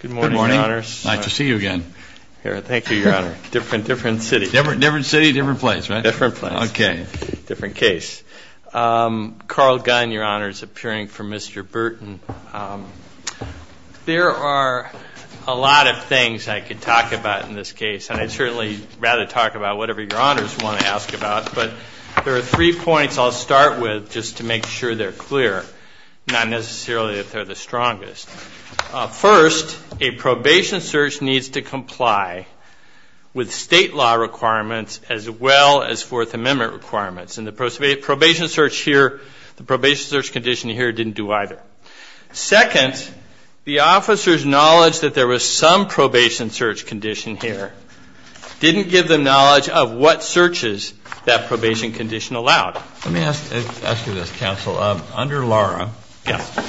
Good morning, your honors. Nice to see you again. Thank you, your honor. Different, different city. Different city, different place, right? Different place. Okay. Different case. Carl Gunn, your honor, is appearing for Mr. Burton. There are a lot of things I could talk about in this case, and I'd certainly rather talk about whatever your honors want to ask about, but there are three points I'll start with just to make sure they're clear, not necessarily that they're the strongest. First, a probation search needs to comply with state law requirements as well as Fourth Amendment requirements, and the probation search here, the probation search condition here didn't do either. Second, the officer's knowledge that there was some probation search condition here didn't give them knowledge of what searches that probation condition allowed. Let me ask you this, counsel. Under Laura,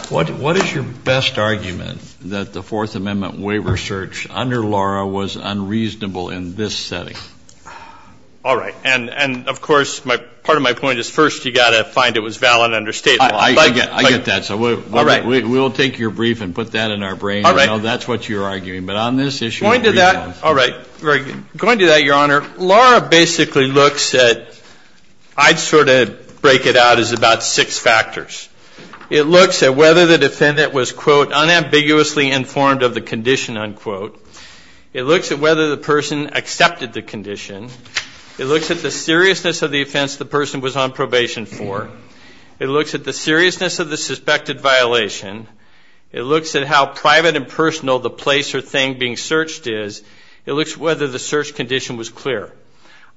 what is your best argument that the Fourth Amendment waiver search under Laura was unreasonable in this setting? All right. And, of course, part of my point is first you've got to find it was valid under state law. I get that. All right. So we'll take your brief and put that in our brain. All right. That's what you're arguing. But on this issue. Going to that. All right. Going to that, your honor. Your honor, Laura basically looks at, I'd sort of break it out as about six factors. It looks at whether the defendant was, quote, unambiguously informed of the condition, unquote. It looks at whether the person accepted the condition. It looks at the seriousness of the offense the person was on probation for. It looks at the seriousness of the suspected violation. It looks at how private and personal the place or thing being searched is. It looks at whether the search condition was clear.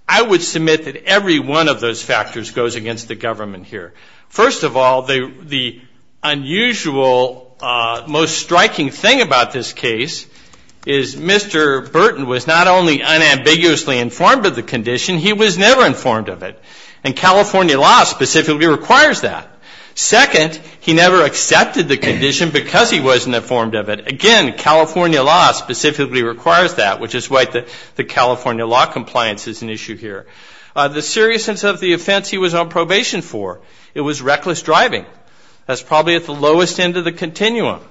I would submit that every one of those factors goes against the government here. First of all, the unusual, most striking thing about this case is Mr. Burton was not only unambiguously informed of the condition, he was never informed of it. And California law specifically requires that. Second, he never accepted the condition because he wasn't informed of it. Again, California law specifically requires that, which is why the California law compliance is an issue here. The seriousness of the offense he was on probation for, it was reckless driving. That's probably at the lowest end of the continuum.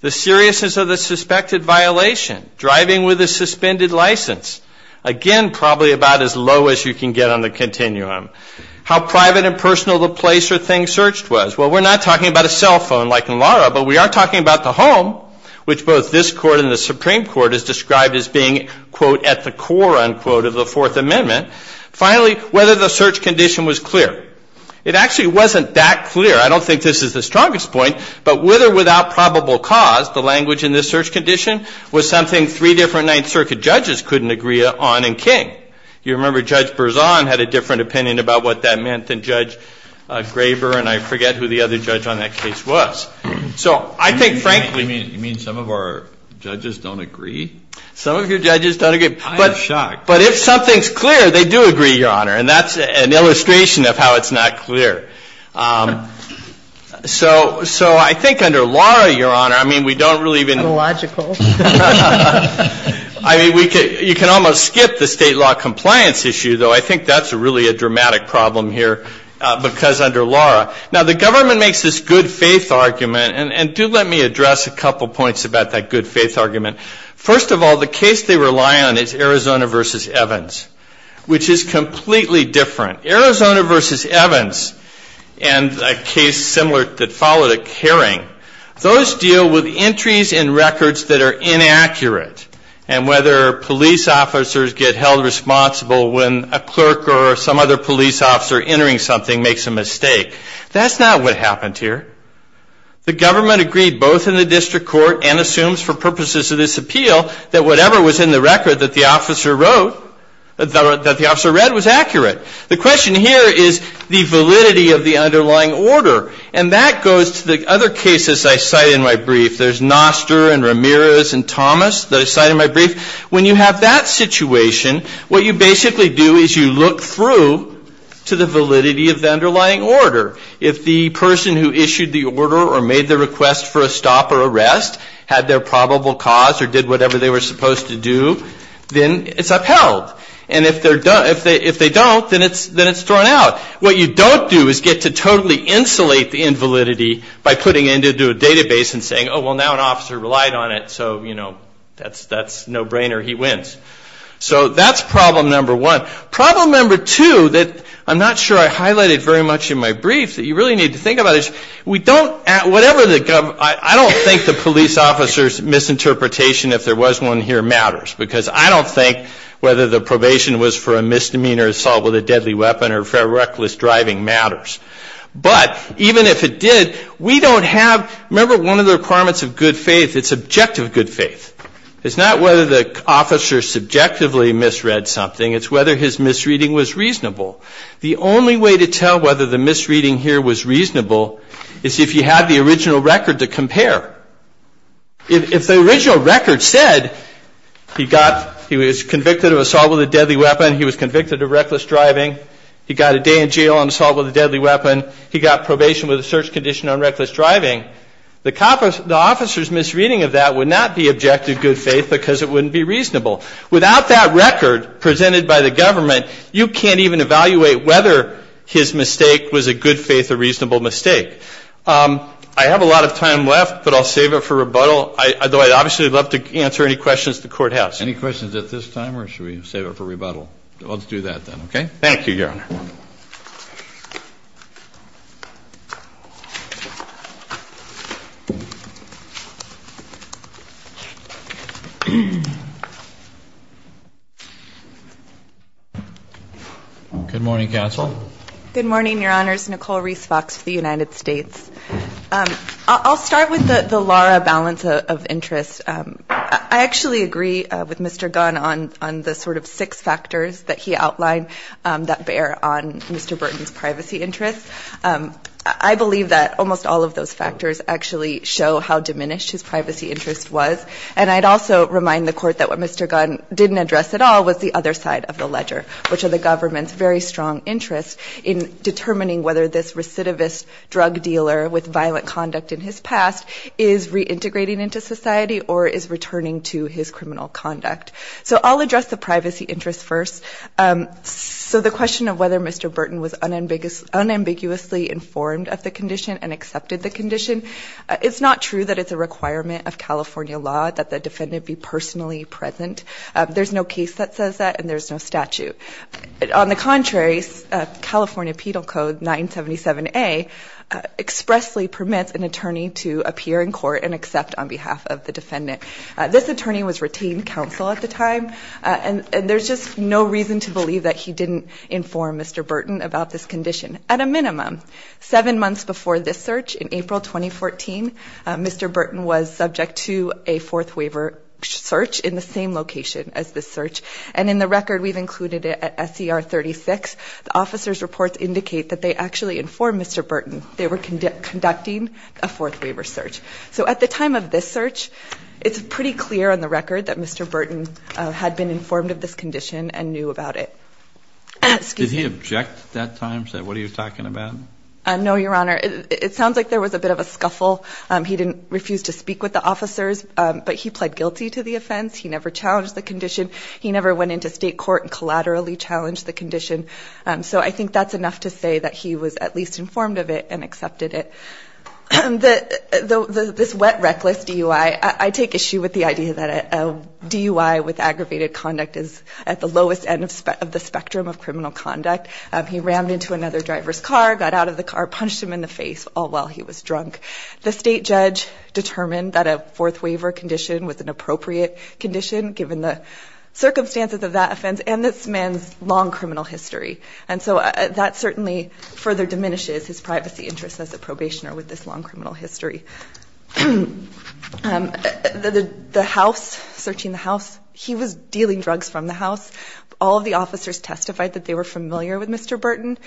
The seriousness of the suspected violation, driving with a suspended license. Again, probably about as low as you can get on the continuum. How private and personal the place or thing searched was. Well, we're not talking about a cell phone like in Lara, but we are talking about the home, which both this Court and the Supreme Court has described as being, quote, at the core, unquote, of the Fourth Amendment. Finally, whether the search condition was clear. It actually wasn't that clear. I don't think this is the strongest point, but with or without probable cause, the language in this search condition was something three different Ninth Circuit judges couldn't agree on in King. You remember Judge Berzon had a different opinion about what that meant than Judge Graber, and I forget who the other judge on that case was. So I think, frankly. You mean some of our judges don't agree? Some of your judges don't agree. I am shocked. But if something's clear, they do agree, Your Honor, and that's an illustration of how it's not clear. So I think under Lara, Your Honor, I mean, we don't really even. Logical. I mean, you can almost skip the state law compliance issue, though. I think that's really a dramatic problem here because under Lara. Now, the government makes this good faith argument, and do let me address a couple points about that good faith argument. First of all, the case they rely on is Arizona v. Evans, which is completely different. Arizona v. Evans and a case similar that followed a hearing, those deal with entries in records that are inaccurate, and whether police officers get held responsible when a clerk or some other police officer entering something makes a mistake. That's not what happened here. The government agreed both in the district court and assumes for purposes of this appeal that whatever was in the record that the officer read was accurate. The question here is the validity of the underlying order, and that goes to the other cases I cite in my brief. There's Noster and Ramirez and Thomas that I cite in my brief. When you have that situation, what you basically do is you look through to the validity of the underlying order. If the person who issued the order or made the request for a stop or arrest had their probable cause or did whatever they were supposed to do, then it's upheld. And if they don't, then it's thrown out. What you don't do is get to totally insulate the invalidity by putting it into a database and saying, oh, well, now an officer relied on it, so that's a no-brainer. He wins. So that's problem number one. Problem number two that I'm not sure I highlighted very much in my brief that you really need to think about is I don't think the police officer's misinterpretation, if there was one here, matters, because I don't think whether the probation was for a misdemeanor, assault with a deadly weapon, or reckless driving matters. But even if it did, we don't have, remember one of the requirements of good faith, it's objective good faith. It's not whether the officer subjectively misread something. It's whether his misreading was reasonable. The only way to tell whether the misreading here was reasonable is if you have the original record to compare. If the original record said he was convicted of assault with a deadly weapon, he was convicted of reckless driving, he got a day in jail on assault with a deadly weapon, he got probation with a search condition on reckless driving, the officer's misreading of that would not be objective good faith because it wouldn't be reasonable. Without that record presented by the government, you can't even evaluate whether his mistake was a good faith or reasonable mistake. I have a lot of time left, but I'll save it for rebuttal. Obviously, I'd love to answer any questions the Court has. Any questions at this time, or should we save it for rebuttal? Let's do that then, okay? Thank you, Your Honor. Good morning, counsel. Good morning, Your Honors. Nicole Reese Fox for the United States. I'll start with the LARA balance of interest. I actually agree with Mr. Gunn on the sort of six factors that he outlined that bear on Mr. Burton's privacy interests. I believe that almost all of those factors actually show how diminished his privacy interest was, and I'd also remind the Court that what Mr. Gunn didn't address at all was the other side of the ledger, which are the government's very strong interests in determining whether this recidivist drug dealer with violent conduct in his past is reintegrating into society or is returning to his criminal conduct. So I'll address the privacy interests first. So the question of whether Mr. Burton was unambiguously informed of the condition and accepted the condition, it's not true that it's a requirement of California law that the defendant be personally present. There's no case that says that, and there's no statute. On the contrary, California Penal Code 977A expressly permits an attorney to appear in court and accept on behalf of the defendant. This attorney was retained counsel at the time, and there's just no reason to believe that he didn't inform Mr. Burton about this condition, at a minimum. Seven months before this search, in April 2014, Mr. Burton was subject to a fourth waiver search in the same location as this search, and in the record we've included it at SCR 36, the officer's reports indicate that they actually informed Mr. Burton they were conducting a fourth waiver search. So at the time of this search, it's pretty clear on the record that Mr. Burton had been informed of this condition and knew about it. Did he object at that time, say, what are you talking about? No, Your Honor. It sounds like there was a bit of a scuffle. He didn't refuse to speak with the officers, but he pled guilty to the offense. He never challenged the condition. He never went into state court and collaterally challenged the condition. So I think that's enough to say that he was at least informed of it and accepted it. This wet, reckless DUI, I take issue with the idea that a DUI with aggravated conduct is at the lowest end of the spectrum of criminal conduct. He rammed into another driver's car, got out of the car, punched him in the face, all while he was drunk. The state judge determined that a fourth waiver condition was an appropriate condition, given the circumstances of that offense and this man's long criminal history. And so that certainly further diminishes his privacy interests as a probationer with this long criminal history. The house, searching the house, he was dealing drugs from the house. All of the officers testified that they were familiar with Mr. Burton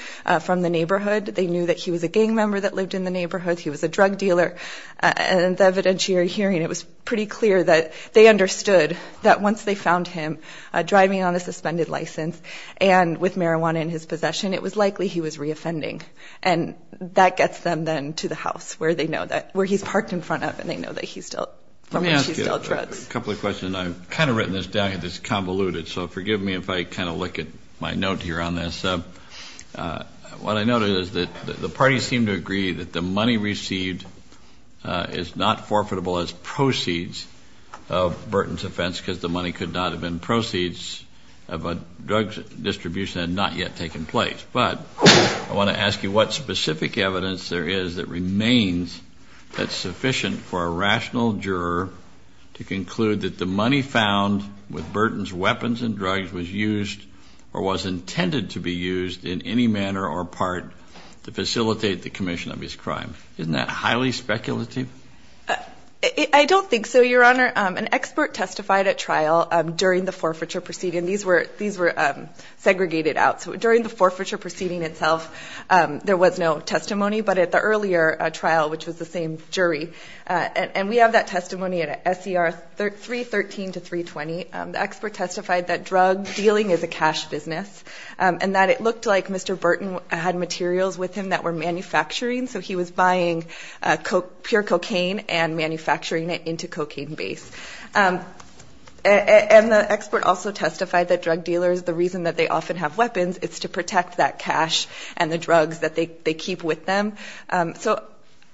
from the neighborhood. They knew that he was a gang member that lived in the neighborhood. He was a drug dealer. And at the evidentiary hearing, it was pretty clear that they understood that once they found him driving on a suspended license and with marijuana in his possession, it was likely he was reoffending. And that gets them then to the house where they know that, where he's parked in front of, and they know that he's dealt, from which he's dealt drugs. Let me ask you a couple of questions. I've kind of written this down here that's convoluted, so forgive me if I kind of lick at my note here on this. What I noted is that the parties seem to agree that the money received is not forfeitable as proceeds of Burton's offense because the money could not have been proceeds of a drug distribution that had not yet taken place. But I want to ask you what specific evidence there is that remains that's sufficient for a rational juror to conclude that the money found with Burton's weapons and drugs was used or was intended to be used in any manner or part to facilitate the commission of his crime. Isn't that highly speculative? I don't think so, Your Honor. An expert testified at trial during the forfeiture proceeding. These were segregated out. So during the forfeiture proceeding itself, there was no testimony. But at the earlier trial, which was the same jury, and we have that testimony at SER 313 to 320, the expert testified that drug dealing is a cash business and that it looked like Mr. Burton had materials with him that were manufacturing, so he was buying pure cocaine and manufacturing it into cocaine base. And the expert also testified that drug dealers, the reason that they often have weapons, is to protect that cash and the drugs that they keep with them. So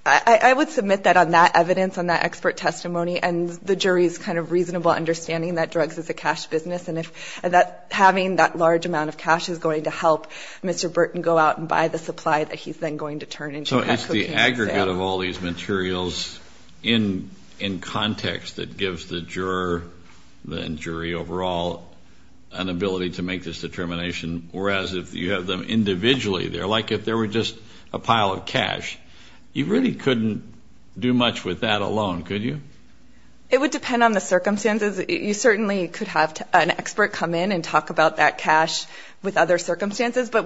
I would submit that on that evidence, on that expert testimony, and the jury's kind of reasonable understanding that drugs is a cash business and that having that large amount of cash is going to help Mr. Burton go out and buy the supply that he's then going to turn into that cocaine and sale. If you have all these materials in context that gives the juror and jury overall an ability to make this determination, whereas if you have them individually there, like if there were just a pile of cash, you really couldn't do much with that alone, could you? It would depend on the circumstances. You certainly could have an expert come in and talk about that cash with other circumstances. But,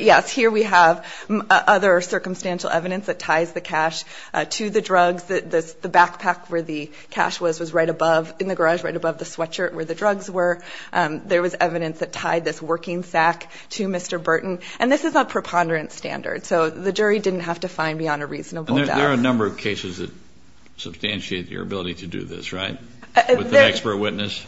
yes, here we have other circumstantial evidence that ties the cash to the drugs. The backpack where the cash was was right above, in the garage right above the sweatshirt where the drugs were. There was evidence that tied this working sack to Mr. Burton. And this is a preponderance standard, so the jury didn't have to find beyond a reasonable doubt. There are a number of cases that substantiate your ability to do this, right, with an expert witness?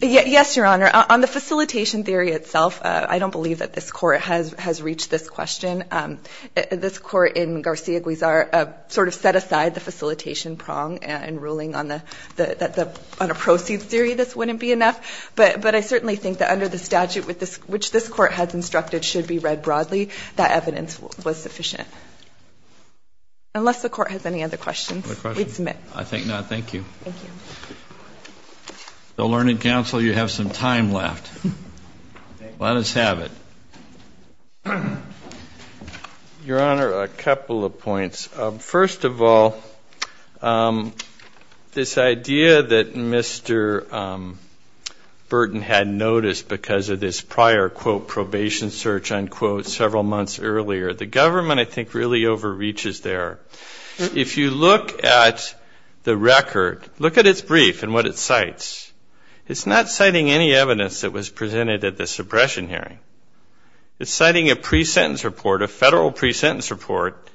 Yes, Your Honor. On the facilitation theory itself, I don't believe that this Court has reached this question. This Court in Garcia-Guizar sort of set aside the facilitation prong and ruling on a proceeds theory this wouldn't be enough. But I certainly think that under the statute which this Court has instructed should be read broadly, that evidence was sufficient. Unless the Court has any other questions, we'd submit. I think not. Thank you. Thank you. The Learning Council, you have some time left. Let us have it. Your Honor, a couple of points. First of all, this idea that Mr. Burton had noticed because of this prior, quote, probation search, unquote, several months earlier, the government I think really overreaches there. If you look at the record, look at its brief and what it cites. It's not citing any evidence that was presented at the suppression hearing. It's citing a pre-sentence report, a federal pre-sentence report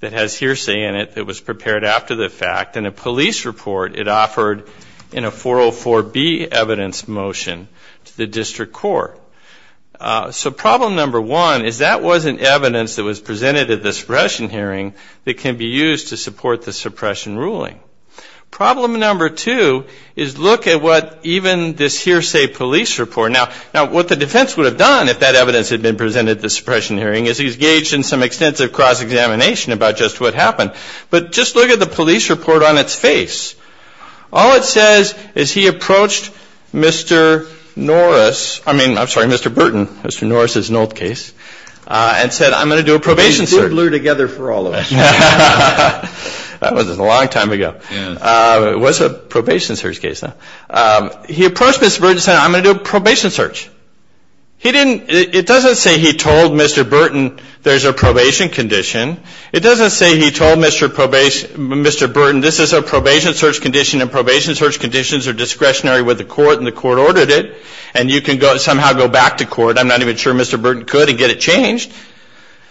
that has hearsay in it that was prepared after the fact, and a police report it offered in a 404B evidence motion to the District Court. So problem number one is that wasn't evidence that was presented at the suppression hearing that can be used to support the suppression ruling. Problem number two is look at what even this hearsay police report. Now, what the defense would have done if that evidence had been presented at the suppression hearing is engaged in some extensive cross-examination about just what happened. But just look at the police report on its face. All it says is he approached Mr. Norris, I mean, I'm sorry, Mr. Burton. Mr. Norris is an old case. And said, I'm going to do a probation search. He did lure together for all of us. That was a long time ago. It was a probation search case. He approached Mr. Burton and said, I'm going to do a probation search. He didn't, it doesn't say he told Mr. Burton there's a probation condition. It doesn't say he told Mr. Burton this is a probation search condition and probation search conditions are discretionary with the court and the court ordered it. And you can somehow go back to court. I'm not even sure Mr. Burton could and get it changed.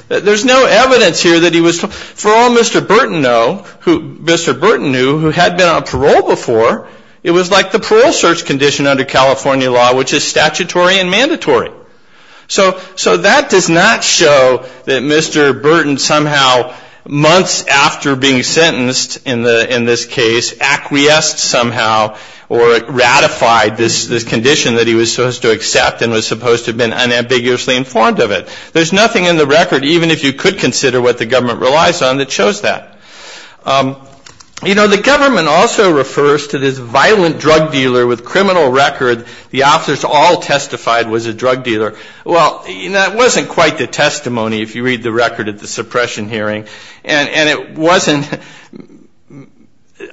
There's no evidence here that he was, for all Mr. Burton knew, who had been on parole before, it was like the parole search condition under California law, which is statutory and mandatory. So that does not show that Mr. Burton somehow, months after being sentenced in this case, acquiesced somehow or ratified this condition that he was supposed to accept and was supposed to have been unambiguously informed of it. There's nothing in the record, even if you could consider what the government relies on, that shows that. You know, the government also refers to this violent drug dealer with criminal record. The officers all testified was a drug dealer. Well, that wasn't quite the testimony if you read the record at the suppression hearing. And it wasn't,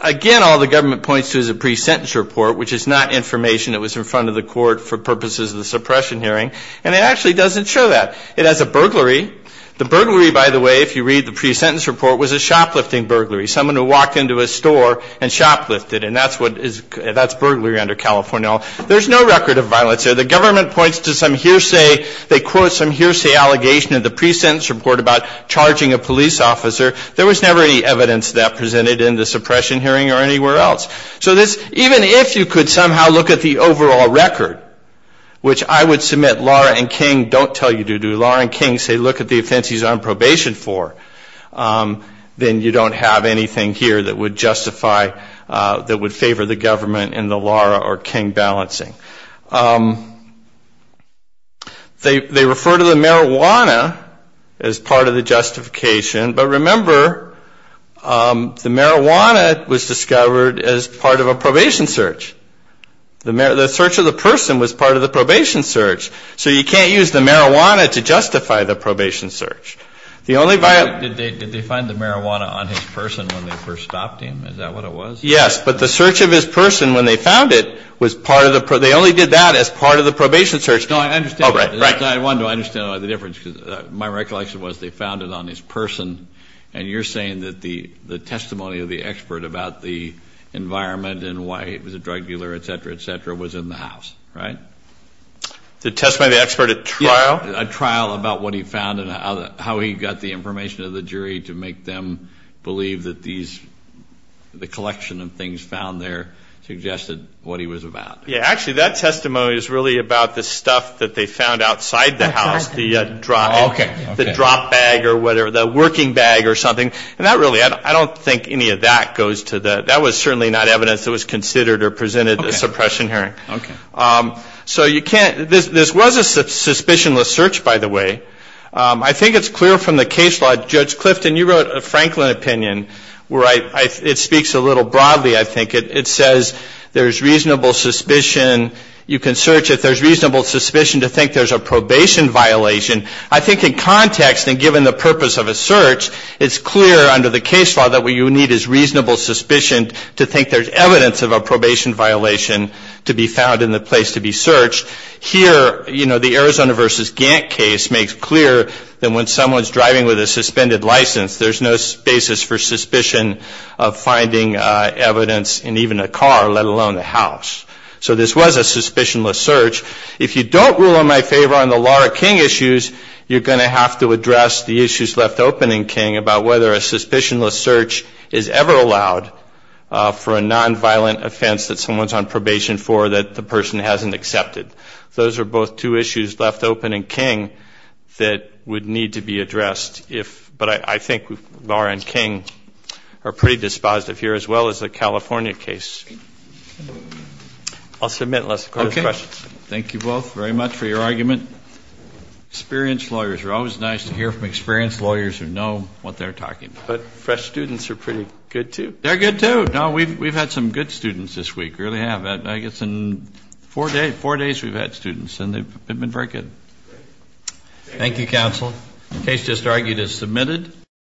again, all the government points to is a pre-sentence report, which is not information that was in front of the court for purposes of the suppression hearing. And it actually doesn't show that. It has a burglary. The burglary, by the way, if you read the pre-sentence report, was a shoplifting burglary, someone who walked into a store and shoplifted. And that's burglary under California law. There's no record of violence there. The government points to some hearsay. They quote some hearsay allegation in the pre-sentence report about charging a police officer. There was never any evidence of that presented in the suppression hearing or anywhere else. So even if you could somehow look at the overall record, which I would submit Laura and King don't tell you to do, Laura and King say look at the offense he's on probation for, then you don't have anything here that would justify, that would favor the government in the Laura or King balancing. They refer to the marijuana as part of the justification. But remember, the marijuana was discovered as part of a probation search. The search of the person was part of the probation search. So you can't use the marijuana to justify the probation search. Did they find the marijuana on his person when they first stopped him? Is that what it was? Yes. But the search of his person when they found it was part of the probation. They only did that as part of the probation search. No, I understand. I wanted to understand the difference because my recollection was they found it on his person. And you're saying that the testimony of the expert about the environment and why he was a drug dealer, et cetera, et cetera, was in the house, right? The testimony of the expert at trial? A trial about what he found and how he got the information to the jury to make them believe that these, the collection of things found there suggested what he was about. Yeah. Actually, that testimony is really about the stuff that they found outside the house, the drop. Okay. The drop bag or whatever, the working bag or something. And that really, I don't think any of that goes to the, that was certainly not evidence that was considered or presented at the suppression hearing. Okay. So you can't, this was a suspicionless search, by the way. I think it's clear from the case law. Judge Clifton, you wrote a Franklin opinion where it speaks a little broadly, I think. It says there's reasonable suspicion. You can search if there's reasonable suspicion to think there's a probation violation. I think in context and given the purpose of a search, it's clear under the case law that what you need is reasonable suspicion to think there's evidence of a probation violation to be found in the place to be searched. Here, you know, the Arizona versus Gantt case makes clear that when someone's driving with a suspended license, there's no basis for suspicion of finding evidence in even a car, let alone the house. So this was a suspicionless search. If you don't rule in my favor on the Laura King issues, you're going to have to address the issues left open in King about whether a suspicionless search is ever allowed for a nonviolent offense that someone's on probation for that the person hasn't accepted. Those are both two issues left open in King that would need to be addressed. But I think Laura and King are pretty dispositive here, as well as the California case. I'll submit unless the Court has questions. Okay. Thank you both very much for your argument. Experienced lawyers are always nice to hear from experienced lawyers who know what they're talking about. But fresh students are pretty good, too. They're good, too. No, we've had some good students this week, really have. I guess in four days we've had students, and they've been very good. Thank you, Counsel. The case just argued is submitted.